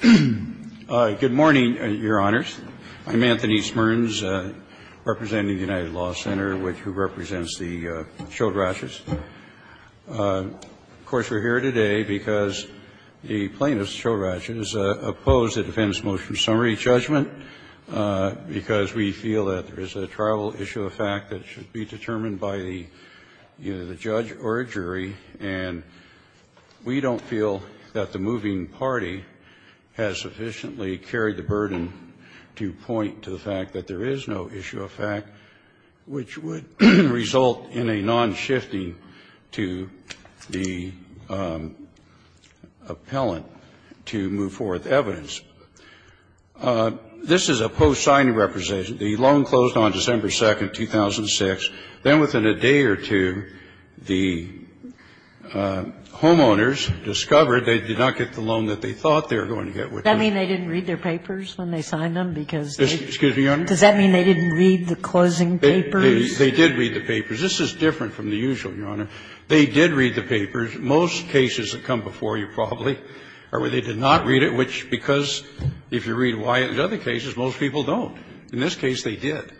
Good morning, Your Honors. I'm Anthony Smearns, representing the United Law Center, which represents the Chohrach's. Of course, we're here today because the plaintiffs, Chohrach's, oppose the defense motion summary judgment because we feel that there is a tribal issue of fact that should be determined by the judge or a jury, and we don't feel that the moving party has sufficiently carried the burden to point to the fact that there is no issue of fact, which would result in a non-shifting to the appellant to move forth evidence. This is a post-signing representation. The loan closed on December 2nd, 2006. Then within a day or two, the homeowners discovered they did not get the loan that they thought they were going to get, which was the closing papers. They did read the papers. This is different from the usual, Your Honor. They did read the papers. Most cases that come before you probably are where they did not read it, which, because if you read Wyatt and other cases, most people don't. In this case, they did,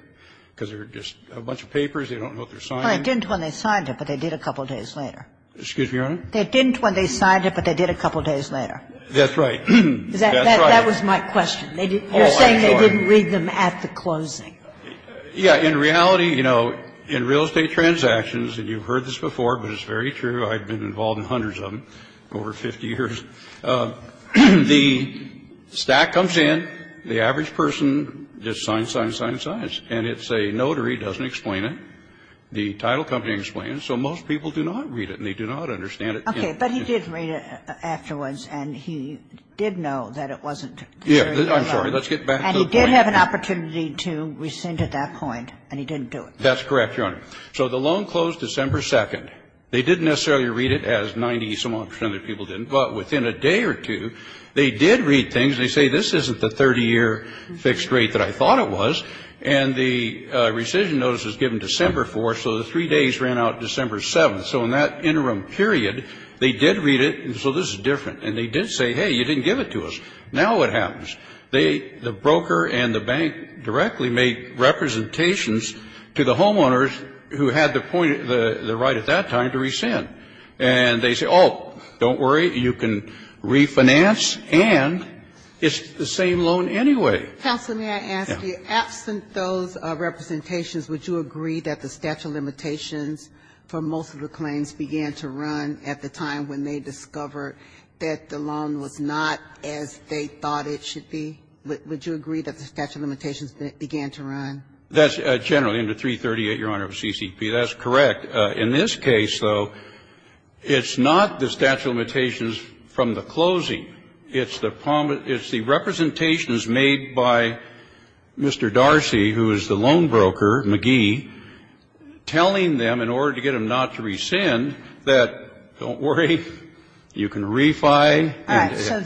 because they're just a bunch of papers, they don't know what they're signing. Well, they didn't when they signed it, but they did a couple days later. Excuse me, Your Honor? They didn't when they signed it, but they did a couple days later. That's right. That's right. That was my question. You're saying they didn't read them at the closing. Yeah. In reality, you know, in real estate transactions, and you've heard this before, but it's very true, I've been involved in hundreds of them over 50 years, the stack comes in, the average person just signs, signs, signs, signs, and it's a notary, doesn't explain it, the title company explains, so most people do not read it, and they do not understand it. Okay. But he did read it afterwards, and he did know that it wasn't a loan. Yeah. I'm sorry. Let's get back to the point. And he did have an opportunity to rescind at that point, and he didn't do it. That's correct, Your Honor. So the loan closed December 2nd. They didn't necessarily read it as 90-some-odd percent of the people did, but within a day or two, they did read things. They say, this isn't the 30-year fixed rate that I thought it was. And the rescission notice was given December 4th, so the three days ran out December 7th. So in that interim period, they did read it, and so this is different. And they did say, hey, you didn't give it to us. Now what happens? The broker and the bank directly make representations to the homeowners who had the point, the right at that time to rescind. And they say, oh, don't worry, you can refinance, and it's the same loan anyway. Counsel, may I ask you, absent those representations, would you agree that the statute of limitations for most of the claims began to run at the time when they discovered that the loan was not as they thought it should be? Would you agree that the statute of limitations began to run? That's generally under 338, Your Honor, of CCP. That's correct. In this case, though, it's not the statute of limitations from the closing. It's the representations made by Mr. Darcy, who is the loan broker, McGee, telling them, in order to get them not to rescind, that don't worry, you can refi. All right. So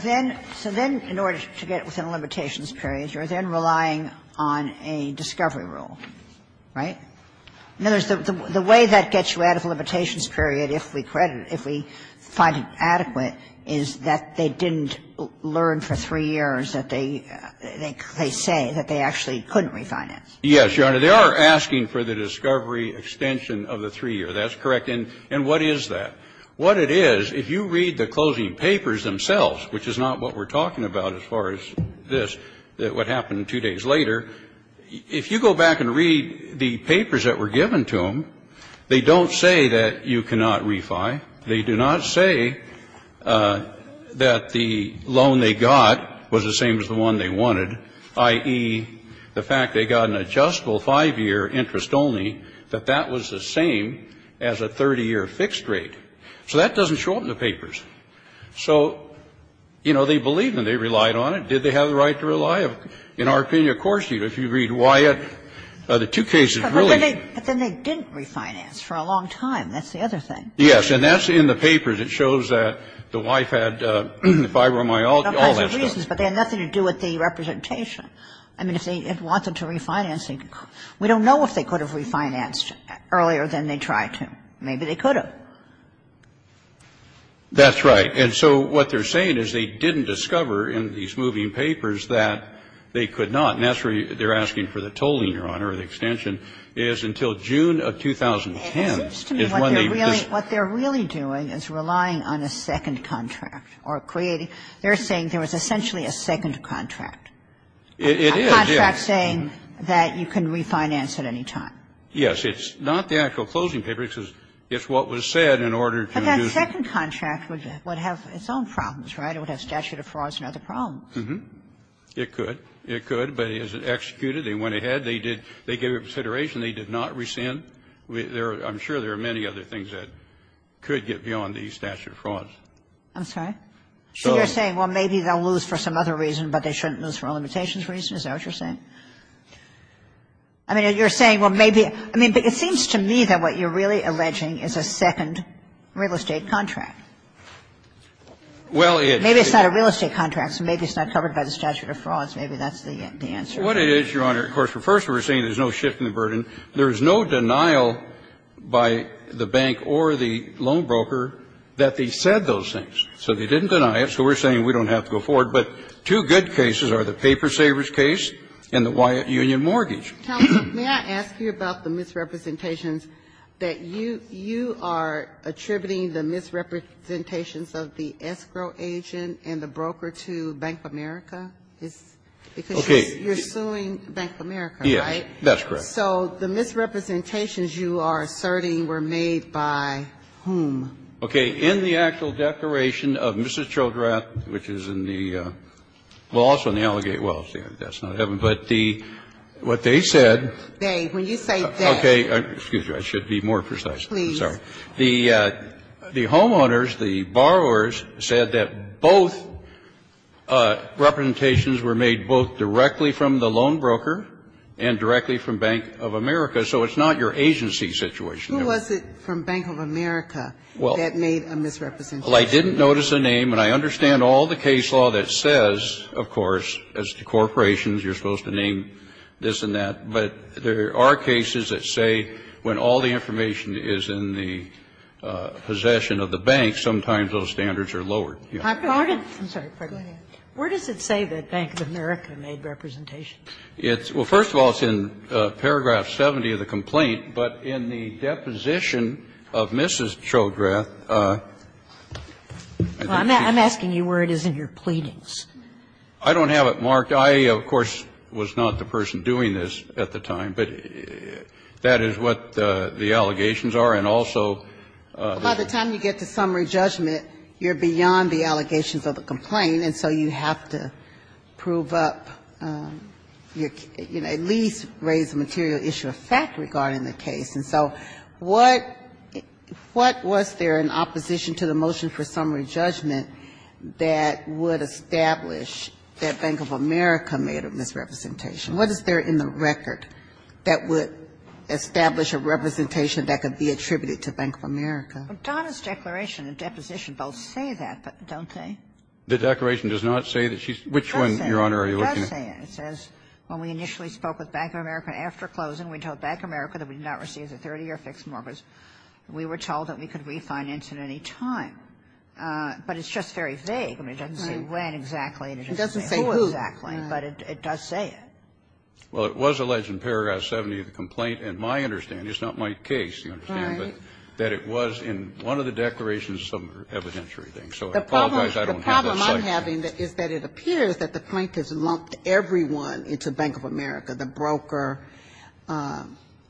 then, in order to get within the limitations period, you're then relying on a discovery rule, right? In other words, the way that gets you out of the limitations period, if we credit, if we find it adequate, is that they didn't learn for three years that they say that they actually couldn't refinance. Yes, Your Honor. They are asking for the discovery extension of the three-year. That's correct. And what is that? What it is, if you read the closing papers themselves, which is not what we're talking about as far as this, what happened two days later, if you go back and read the papers that were given to them, they don't say that you cannot refi. They do not say that the loan they got was the same as the one they wanted, i.e., the fact they got an adjustable 5-year interest only, that that was the same as a 30-year fixed rate. So that doesn't show up in the papers. So, you know, they believed and they relied on it. Did they have the right to rely? In our opinion, of course, if you read Wyatt, the two cases really do. But then they didn't refinance for a long time. That's the other thing. Yes. And that's in the papers. It shows that the wife had fibromyalgia, all that stuff. But they had nothing to do with the representation. I mean, if they had wanted to refinance, we don't know if they could have refinanced earlier than they tried to. Maybe they could have. That's right. And so what they're saying is they didn't discover in these moving papers that they could not. And that's where they're asking for the tolling, Your Honor, or the extension, is until June of 2010 is when they just ---- It seems to me what they're really doing is relying on a second contract or creating they're saying there was essentially a second contract. It is, yes. A contract saying that you can refinance at any time. Yes. It's not the actual closing paper. It's what was said in order to reduce the ---- But that second contract would have its own problems, right? It would have statute of frauds and other problems. It could. It could. But as it executed, they went ahead. They did ---- they gave it consideration. They did not rescind. I'm sure there are many other things that could get beyond the statute of frauds. I'm sorry? So you're saying, well, maybe they'll lose for some other reason, but they shouldn't lose for a limitations reason? Is that what you're saying? I mean, you're saying, well, maybe ---- I mean, but it seems to me that what you're really alleging is a second real estate contract. Well, it ---- Maybe it's not a real estate contract, so maybe it's not covered by the statute of frauds. Maybe that's the answer. What it is, Your Honor, of course, first we're saying there's no shift in the burden. There is no denial by the bank or the loan broker that they said those things. So they didn't deny it. So we're saying we don't have to go forward. But two good cases are the paper savers case and the Wyatt Union mortgage. May I ask you about the misrepresentations that you are attributing the misrepresentations of the escrow agent and the broker to Bank of America? Because you're suing Bank of America, right? Yes, that's correct. So the misrepresentations you are asserting were made by whom? Okay. In the actual declaration of Mrs. Chodrat, which is in the ---- well, also in the Allegate Wells, that's not Heaven, but the ---- what they said ---- They. When you say they. Okay. Excuse me. I should be more precise. Please. I'm sorry. The homeowners, the borrowers said that both representations were made both directly from the loan broker and directly from Bank of America. So it's not your agency situation. Who was it from Bank of America? Well. That made a misrepresentation. Well, I didn't notice a name, and I understand all the case law that says, of course, as to corporations, you're supposed to name this and that. But there are cases that say when all the information is in the possession of the bank, sometimes those standards are lowered. I'm sorry. Pardon me. Where does it say that Bank of America made representations? It's ---- well, first of all, it's in paragraph 70 of the complaint. But in the deposition of Mrs. Chodrath ---- Well, I'm asking you where it is in your pleadings. I don't have it marked. I, of course, was not the person doing this at the time. But that is what the allegations are. And also ---- By the time you get to summary judgment, you're beyond the allegations of the complaint. And so you have to prove up, you know, at least raise the material issue of fact regarding the case. And so what was there in opposition to the motion for summary judgment that would establish that Bank of America made a misrepresentation? What is there in the record that would establish a representation that could be attributed to Bank of America? Donna's declaration and deposition both say that, but don't they? The declaration does not say that she's ---- Which one, Your Honor, are you looking at? It does say it. It says, when we initially spoke with Bank of America after closing, we told Bank of America that we did not receive the 30-year fixed mortgage. We were told that we could refinance at any time. But it's just very vague. I mean, it doesn't say when exactly. It doesn't say who exactly. But it does say it. Well, it was alleged in paragraph 70 of the complaint, and my understanding ---- it's not my case, you understand ---- Right. That it was in one of the declarations of some evidentiary thing. So I apologize, I don't have that slide. The problem I'm having is that it appears that the plaintiffs lumped everyone into Bank of America, the broker,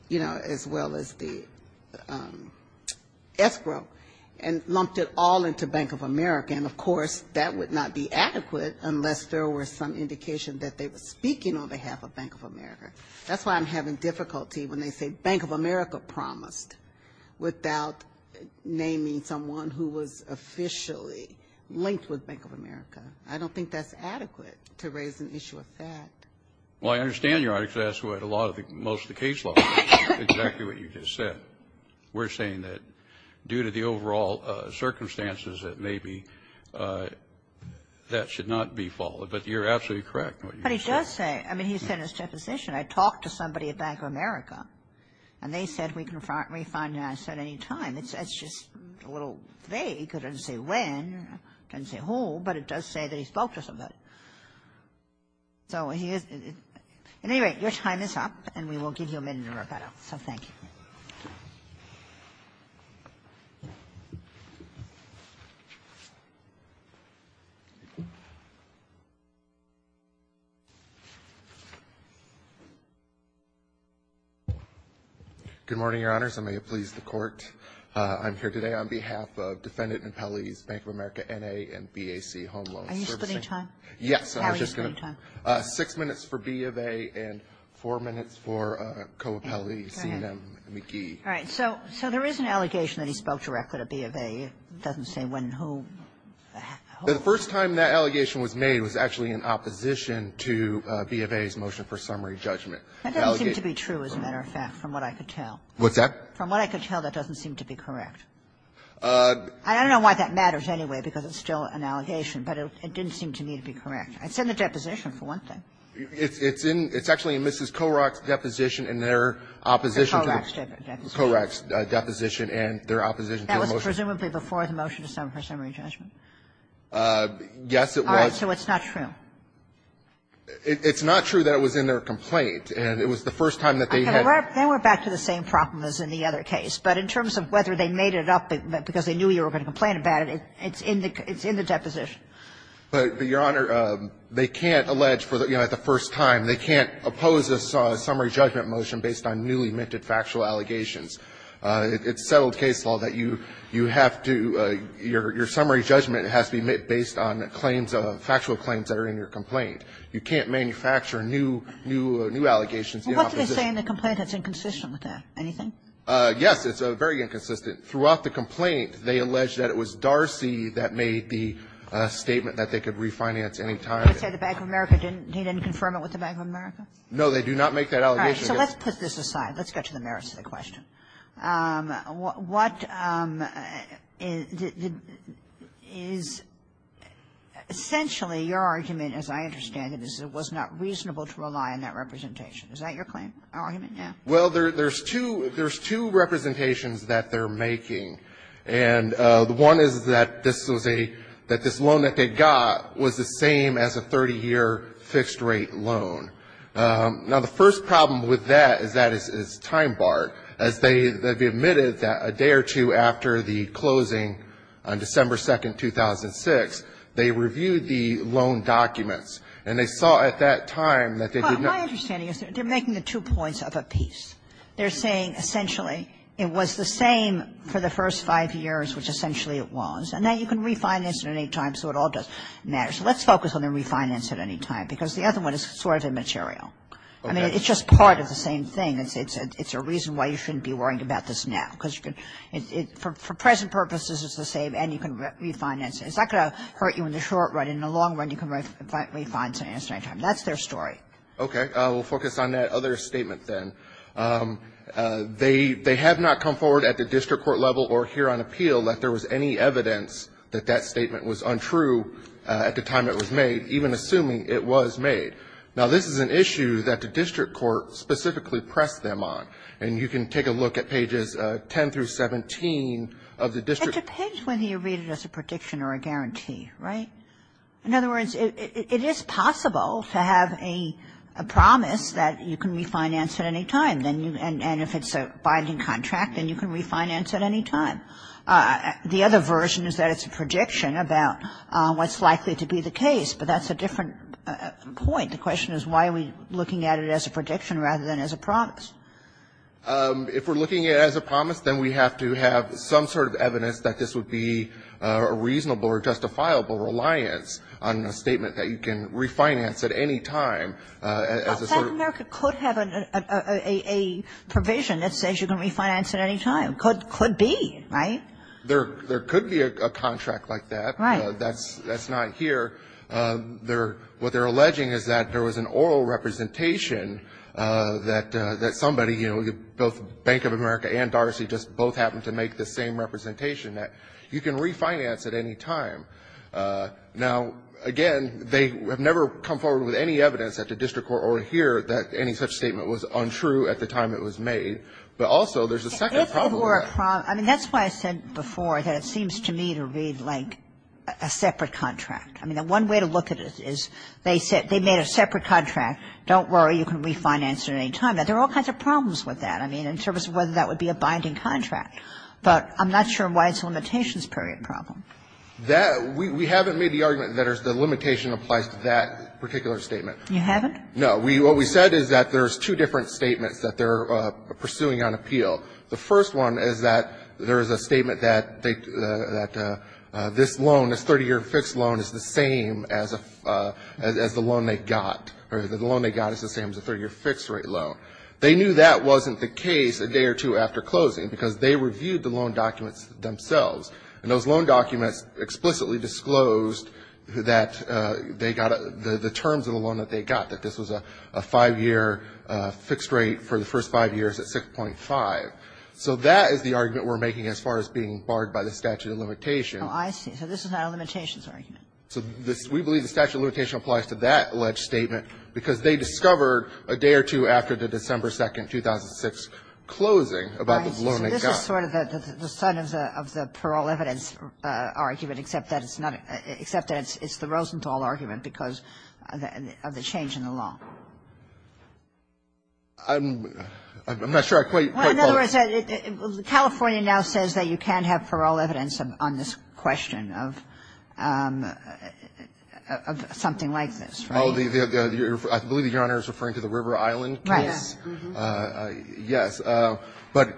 you know, as well as the escrow, and lumped it all into Bank of America. And, of course, that would not be adequate unless there were some indication that they were speaking on behalf of Bank of America. That's why I'm having difficulty when they say Bank of America promised, without naming someone who was officially linked with Bank of America. I don't think that's adequate to raise an issue of fact. Well, I understand your article. That's what a lot of the ---- most of the case law is exactly what you just said. We're saying that due to the overall circumstances that may be, that should not be followed. But you're absolutely correct in what you just said. But he does say ---- I mean, he said in his deposition, I talked to somebody at Bank of America, and they said we can refinance at any time. It's just a little vague. It doesn't say when, it doesn't say who, but it does say that he spoke to somebody. So he is ---- at any rate, your time is up, and we will give you a minute to work that out. So thank you. Good morning, Your Honors, and may it please the Court, I'm here today on behalf of Defendant Impelli's Bank of America N.A. and B.A.C. home loan servicing. Are you splitting time? Yes, I'm just going to ---- How are you splitting time? Six minutes for B. of A. and four minutes for Coapelli, C&M, McGee. All right. So there is an allegation that he spoke directly to B. of A. It doesn't say when, who. The first time that allegation was made was actually in opposition to B. of A.'s motion for summary judgment. That doesn't seem to be true, as a matter of fact, from what I could tell. What's that? From what I could tell, that doesn't seem to be correct. I don't know why that matters anyway, because it's still an allegation, but it didn't seem to me to be correct. It's in the deposition, for one thing. It's in Mrs. Korach's deposition in their opposition to the ---- Korach's deposition. Korach's deposition and their opposition to the motion. That was presumably before the motion to sum her summary judgment. Yes, it was. All right. So it's not true. It's not true that it was in their complaint, and it was the first time that they had ---- They went back to the same problem as in the other case. But in terms of whether they made it up because they knew you were going to complain about it, it's in the deposition. But, Your Honor, they can't allege, you know, at the first time, they can't oppose a summary judgment motion based on newly-minted factual allegations. It's settled case law that you have to ---- your summary judgment has to be based on claims of ---- factual claims that are in your complaint. You can't manufacture new allegations in opposition. Well, what did they say in the complaint that's inconsistent with that? Anything? Yes, it's very inconsistent. Throughout the complaint, they allege that it was Darcy that made the statement that they could refinance any time. They said the Bank of America didn't ---- he didn't confirm it with the Bank of America? No, they do not make that allegation. All right. So let's put this aside. Let's get to the merits of the question. What is essentially your argument, as I understand it, is it was not reasonable to rely on that representation. Is that your claim? Argument? Yeah. Well, there's two ---- there's two representations that they're making, and one is that this was a ---- that this loan that they got was the same as a 30-year fixed-rate loan. Now, the first problem with that is that it's time-barred. As they have admitted that a day or two after the closing on December 2, 2006, they reviewed the loan documents, and they saw at that time that they did not ---- My understanding is that they're making the two points of a piece. They're saying essentially it was the same for the first five years, which essentially it was, and now you can refinance it at any time, so it all does matter. So let's focus on the refinance at any time, because the other one is sort of immaterial. I mean, it's just part of the same thing. It's a reason why you shouldn't be worrying about this now, because you can ---- for present purposes, it's the same, and you can refinance it. It's not going to hurt you in the short run. In the long run, you can refinance it at any time. That's their story. Okay. We'll focus on that other statement then. They have not come forward at the district court level or here on appeal that there was any evidence that that statement was untrue at the time it was made, even assuming it was made. Now, this is an issue that the district court specifically pressed them on, and you can take a look at pages 10 through 17 of the district ---- It depends whether you read it as a prediction or a guarantee, right? In other words, it is possible to have a promise that you can refinance at any time, and if it's a binding contract, then you can refinance at any time. The other version is that it's a prediction about what's likely to be the case, but that's a different point. The question is why are we looking at it as a prediction rather than as a promise? If we're looking at it as a promise, then we have to have some sort of evidence that this would be a reasonable or justifiable reliance on a statement that you can refinance at any time as a sort of ---- But Bank of America could have a provision that says you can refinance at any time. Could be, right? There could be a contract like that. Right. That's not here. What they're alleging is that there was an oral representation that somebody, you know, both Bank of America and Darcy just both happened to make the same representation that you can refinance at any time. Now, again, they have never come forward with any evidence at the district court over here that any such statement was untrue at the time it was made. But also, there's a second problem with that. If it were a ---- I mean, that's why I said before that it seems to me to read like a separate contract. I mean, the one way to look at it is they said they made a separate contract. Don't worry. You can refinance at any time. There are all kinds of problems with that, I mean, in terms of whether that would be a binding contract. But I'm not sure why it's a limitations period problem. That ---- we haven't made the argument that the limitation applies to that particular statement. You haven't? No. What we said is that there's two different statements that they're pursuing on appeal. The first one is that there is a statement that they ---- that this loan, this 30-year fixed loan, is the same as a ---- as the loan they got, or the loan they got is the same as a 30-year fixed rate loan. They knew that wasn't the case a day or two after closing because they reviewed the loan documents themselves. And those loan documents explicitly disclosed that they got a ---- the terms of the loan that they got, that this was a 5-year fixed rate for the first 5 years at 6.5. So that is the argument we're making as far as being barred by the statute of limitation. Oh, I see. So this is not a limitations argument. So this ---- we believe the statute of limitation applies to that alleged statement because they discovered a day or two after the December 2nd, 2006 closing about the loan they got. Right. So this is sort of the son of the parole evidence argument, except that it's not ---- except that it's the Rosenthal argument because of the change in the law. I'm not sure I quite follow. Well, in other words, California now says that you can't have parole evidence on this question of something like this, right? Well, I believe Your Honor is referring to the River Island case. Right. Yes. But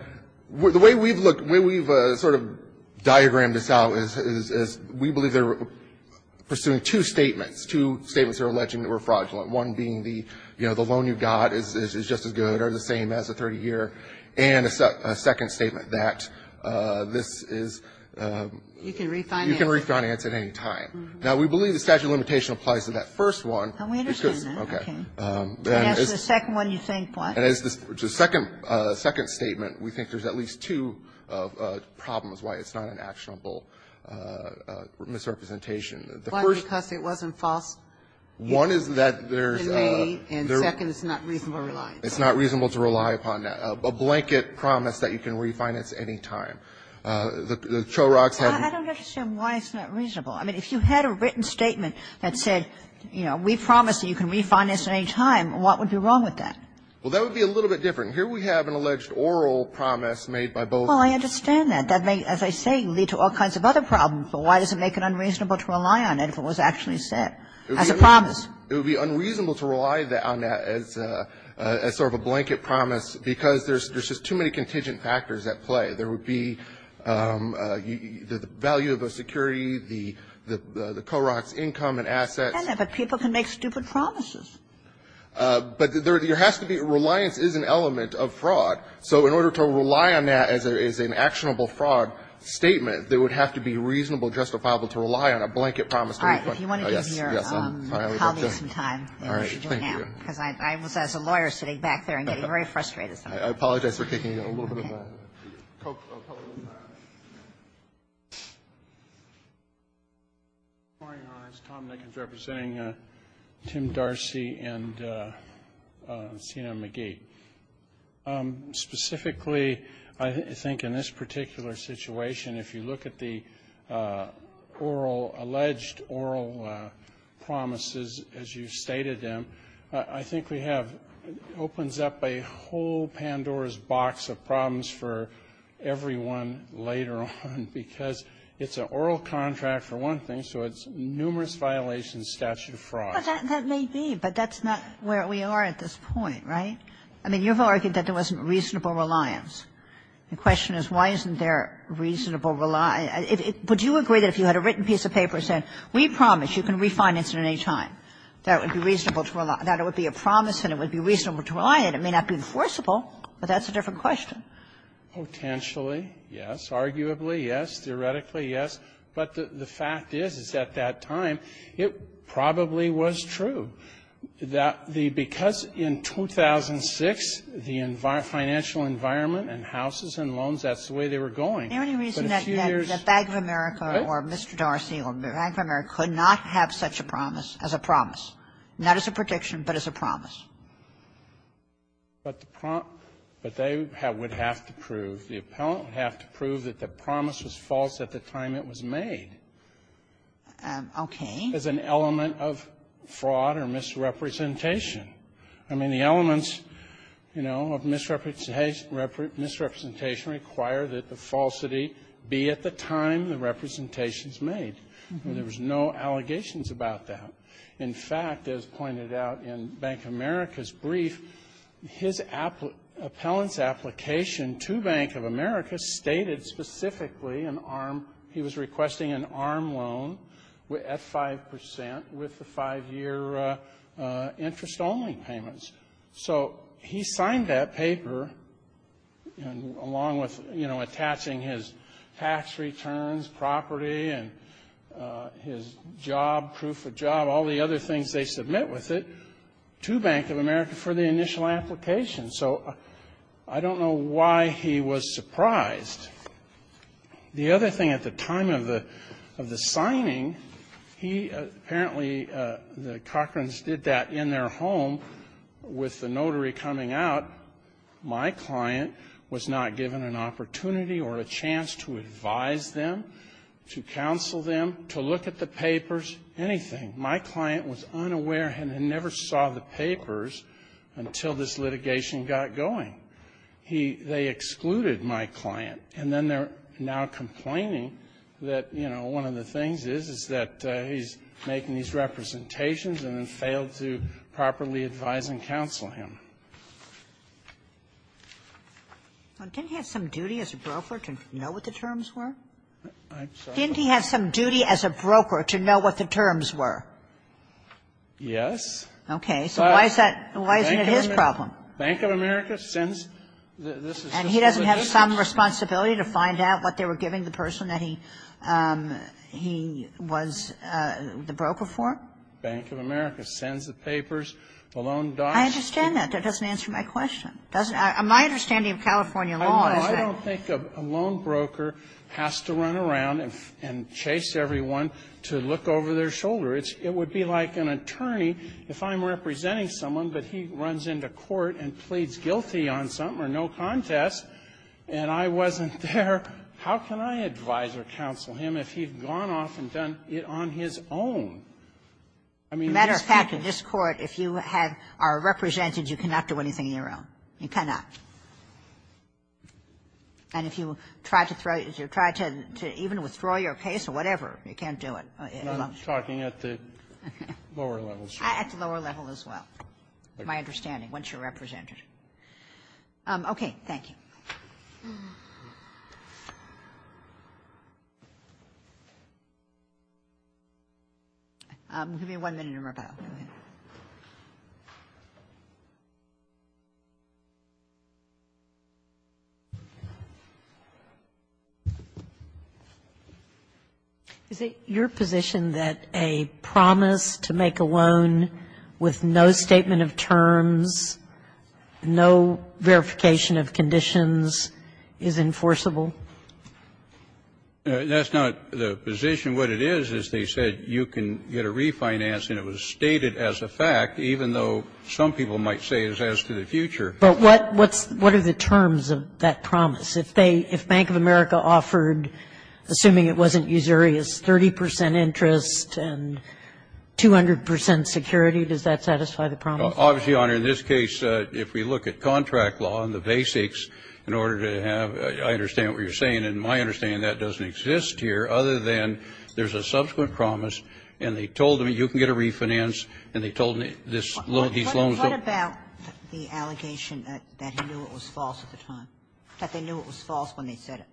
the way we've looked, the way we've sort of diagrammed this out is we believe they're pursuing two statements, two statements that are alleging that we're fraudulent, one being the loan you got is just as good or the same as a 30-year, and a second statement that this is ---- You can refinance it. You can refinance at any time. Now, we believe the statute of limitation applies to that first one. And we understand that. Okay. And as to the second one, you think what? And as to the second statement, we think there's at least two problems why it's not an actionable misrepresentation. The first ---- Why? Because it wasn't false in May, and second, it's not reasonable to rely upon. It's not reasonable to rely upon. A blanket promise that you can refinance any time. The Chorags had ---- I don't understand why it's not reasonable. I mean, if you had a written statement that said, you know, we promise that you can refinance at any time, what would be wrong with that? Well, that would be a little bit different. Here we have an alleged oral promise made by both ---- Well, I understand that. That may, as I say, lead to all kinds of other problems. But why does it make it unreasonable to rely on it if it was actually set as a promise? It would be unreasonable to rely on that as sort of a blanket promise because there's just too many contingent factors at play. There would be the value of a security, the Chorag's income and assets. But people can make stupid promises. But there has to be ---- reliance is an element of fraud. So in order to rely on that as an actionable fraud statement, there would have to be reasonable, justifiable to rely on a blanket promise to refund. All right. If you want to give your colleagues some time, you should do now. All right. Thank you. Because I was, as a lawyer, sitting back there and getting very frustrated. I apologize for taking a little bit of time. Go ahead, please. I'll come up. Good morning. My name is Tom Nickens representing Tim Darcy and Sina McGee. Specifically, I think in this particular situation, if you look at the oral, alleged oral promises as you stated them, I think we have, opens up a whole Pandora's Box of problems for everyone later on, because it's an oral contract, for one thing, so it's numerous violations, statute of fraud. But that may be, but that's not where we are at this point, right? I mean, you've argued that there wasn't reasonable reliance. The question is why isn't there reasonable reliance? Would you agree that if you had a written piece of paper saying, we promise you can refinance at any time, that it would be a promise and it would be reasonable to rely on it? It may not be enforceable, but that's a different question. Potentially, yes. Arguably, yes. Theoretically, yes. But the fact is, is at that time, it probably was true, that the because in 2006, the financial environment and houses and loans, that's the way they were going. But a few years ago, the Bank of America or Mr. Darcy or Bank of America could not have such a promise as a promise, not as a prediction, but as a promise. But the prompt, but they would have to prove, the appellant would have to prove that the promise was false at the time it was made. Okay. As an element of fraud or misrepresentation. I mean, the elements, you know, of misrepresentation require that the falsity be at the time the representation is made. There was no allegations about that. In fact, as pointed out in Bank of America's brief, his appellant's application to Bank of America stated specifically an arm, he was requesting an arm loan at 5% with the five-year interest-only payments. So he signed that paper, and along with, you know, attaching his tax returns, property, and his job, proof of job, all the other things they submit with it to Bank of America for the initial application. So I don't know why he was surprised. The other thing at the time of the signing, he apparently, the Cochran's did that in their home with the notary coming out. My client was not given an opportunity or a chance to advise them, to counsel them, to look at the papers, anything. My client was unaware and never saw the papers until this litigation got going. He, they excluded my client, and then they're now complaining that, you know, one of the things is, is that he's making these representations and then failed to properly advise and counsel him. And didn't he have some duty as a broker to know what the terms were? I'm sorry? Didn't he have some duty as a broker to know what the terms were? Yes. Okay. So why is that, why isn't it his problem? Bank of America sends the, this is to give the district. And he doesn't have some responsibility to find out what they were giving the person that he, he was the broker for? Bank of America sends the papers, the loan docs. I understand that. That doesn't answer my question. Doesn't, my understanding of California law is that. I don't think a loan broker has to run around and chase everyone to look over their shoulder. It would be like an attorney, if I'm representing someone, but he runs into court and pleads guilty on something or no contest, and I wasn't there, how can I advise or counsel him if he's gone off and done it on his own? I mean, in this case you can't do anything on your own, you cannot. And if you try to throw, you try to even withdraw your case or whatever, you can't do it. I'm talking at the lower level. At the lower level as well, my understanding, once you're represented. Okay. Thank you. We'll give you one minute or more, Pat. Is it your position that a promise to make a loan with no statement of terms, no verification of conditions is enforceable? That's not the position. What it is, is they said you can get a refinance and it was stated as a fact, even though some people might say it's as to the future. But what's the terms of that promise? If they, if Bank of America offered, assuming it wasn't usurious, 30 percent interest and 200 percent security, does that satisfy the promise? Obviously, Your Honor, in this case, if we look at contract law and the basics in order to have, I understand what you're saying, and my understanding that doesn't exist here, other than there's a subsequent promise and they told them you can get a refinance and they told them this loan, these loans don't. What about the allegation that he knew it was false at the time, that they knew it was false when they said it?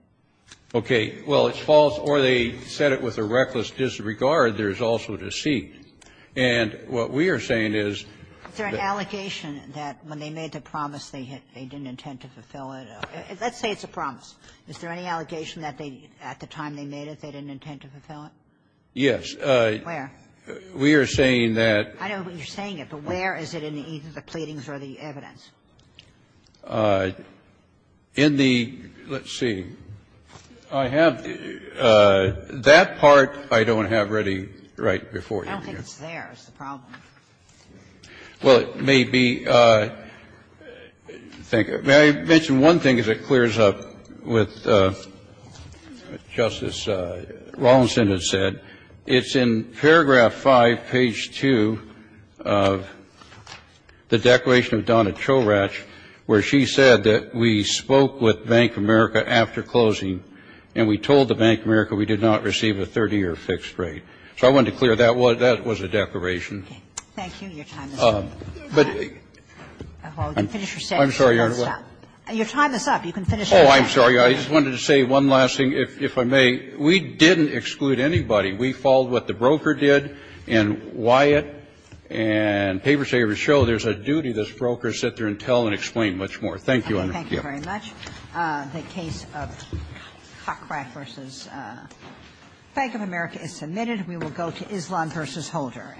Okay. Well, it's false, or they said it with a reckless disregard, there's also deceit. And what we are saying is that they did not do it. Is there an allegation that when they made the promise, they didn't intend to fulfill it? Let's say it's a promise. Is there any allegation that they, at the time they made it, they didn't intend to fulfill it? We are saying that there is no evidence that they did it. I know what you're saying, but where is it in either the pleadings or the evidence? In the, let's see, I have, that part I don't have ready right before you. I don't think it's there is the problem. Well, it may be, thank you. May I mention one thing as it clears up with Justice Rawlinson has said. It's in paragraph 5, page 2 of the declaration of Donna Choratch where she said that we spoke with Bank of America after closing and we told the Bank of America we did not receive a 30-year fixed rate. So I wanted to clear that. That was a declaration. Thank you. Your time is up. I'm sorry, Your Honor. Your time is up. You can finish your time. Oh, I'm sorry. I just wanted to say one last thing, if I may. We didn't exclude anybody. We followed what the broker did and Wyatt and paper savers show there's a duty of this broker to sit there and tell and explain much more. Thank you, Your Honor. Thank you very much. The case of Cockrath v. Bank of America is submitted. We will go to Islan v. Holder.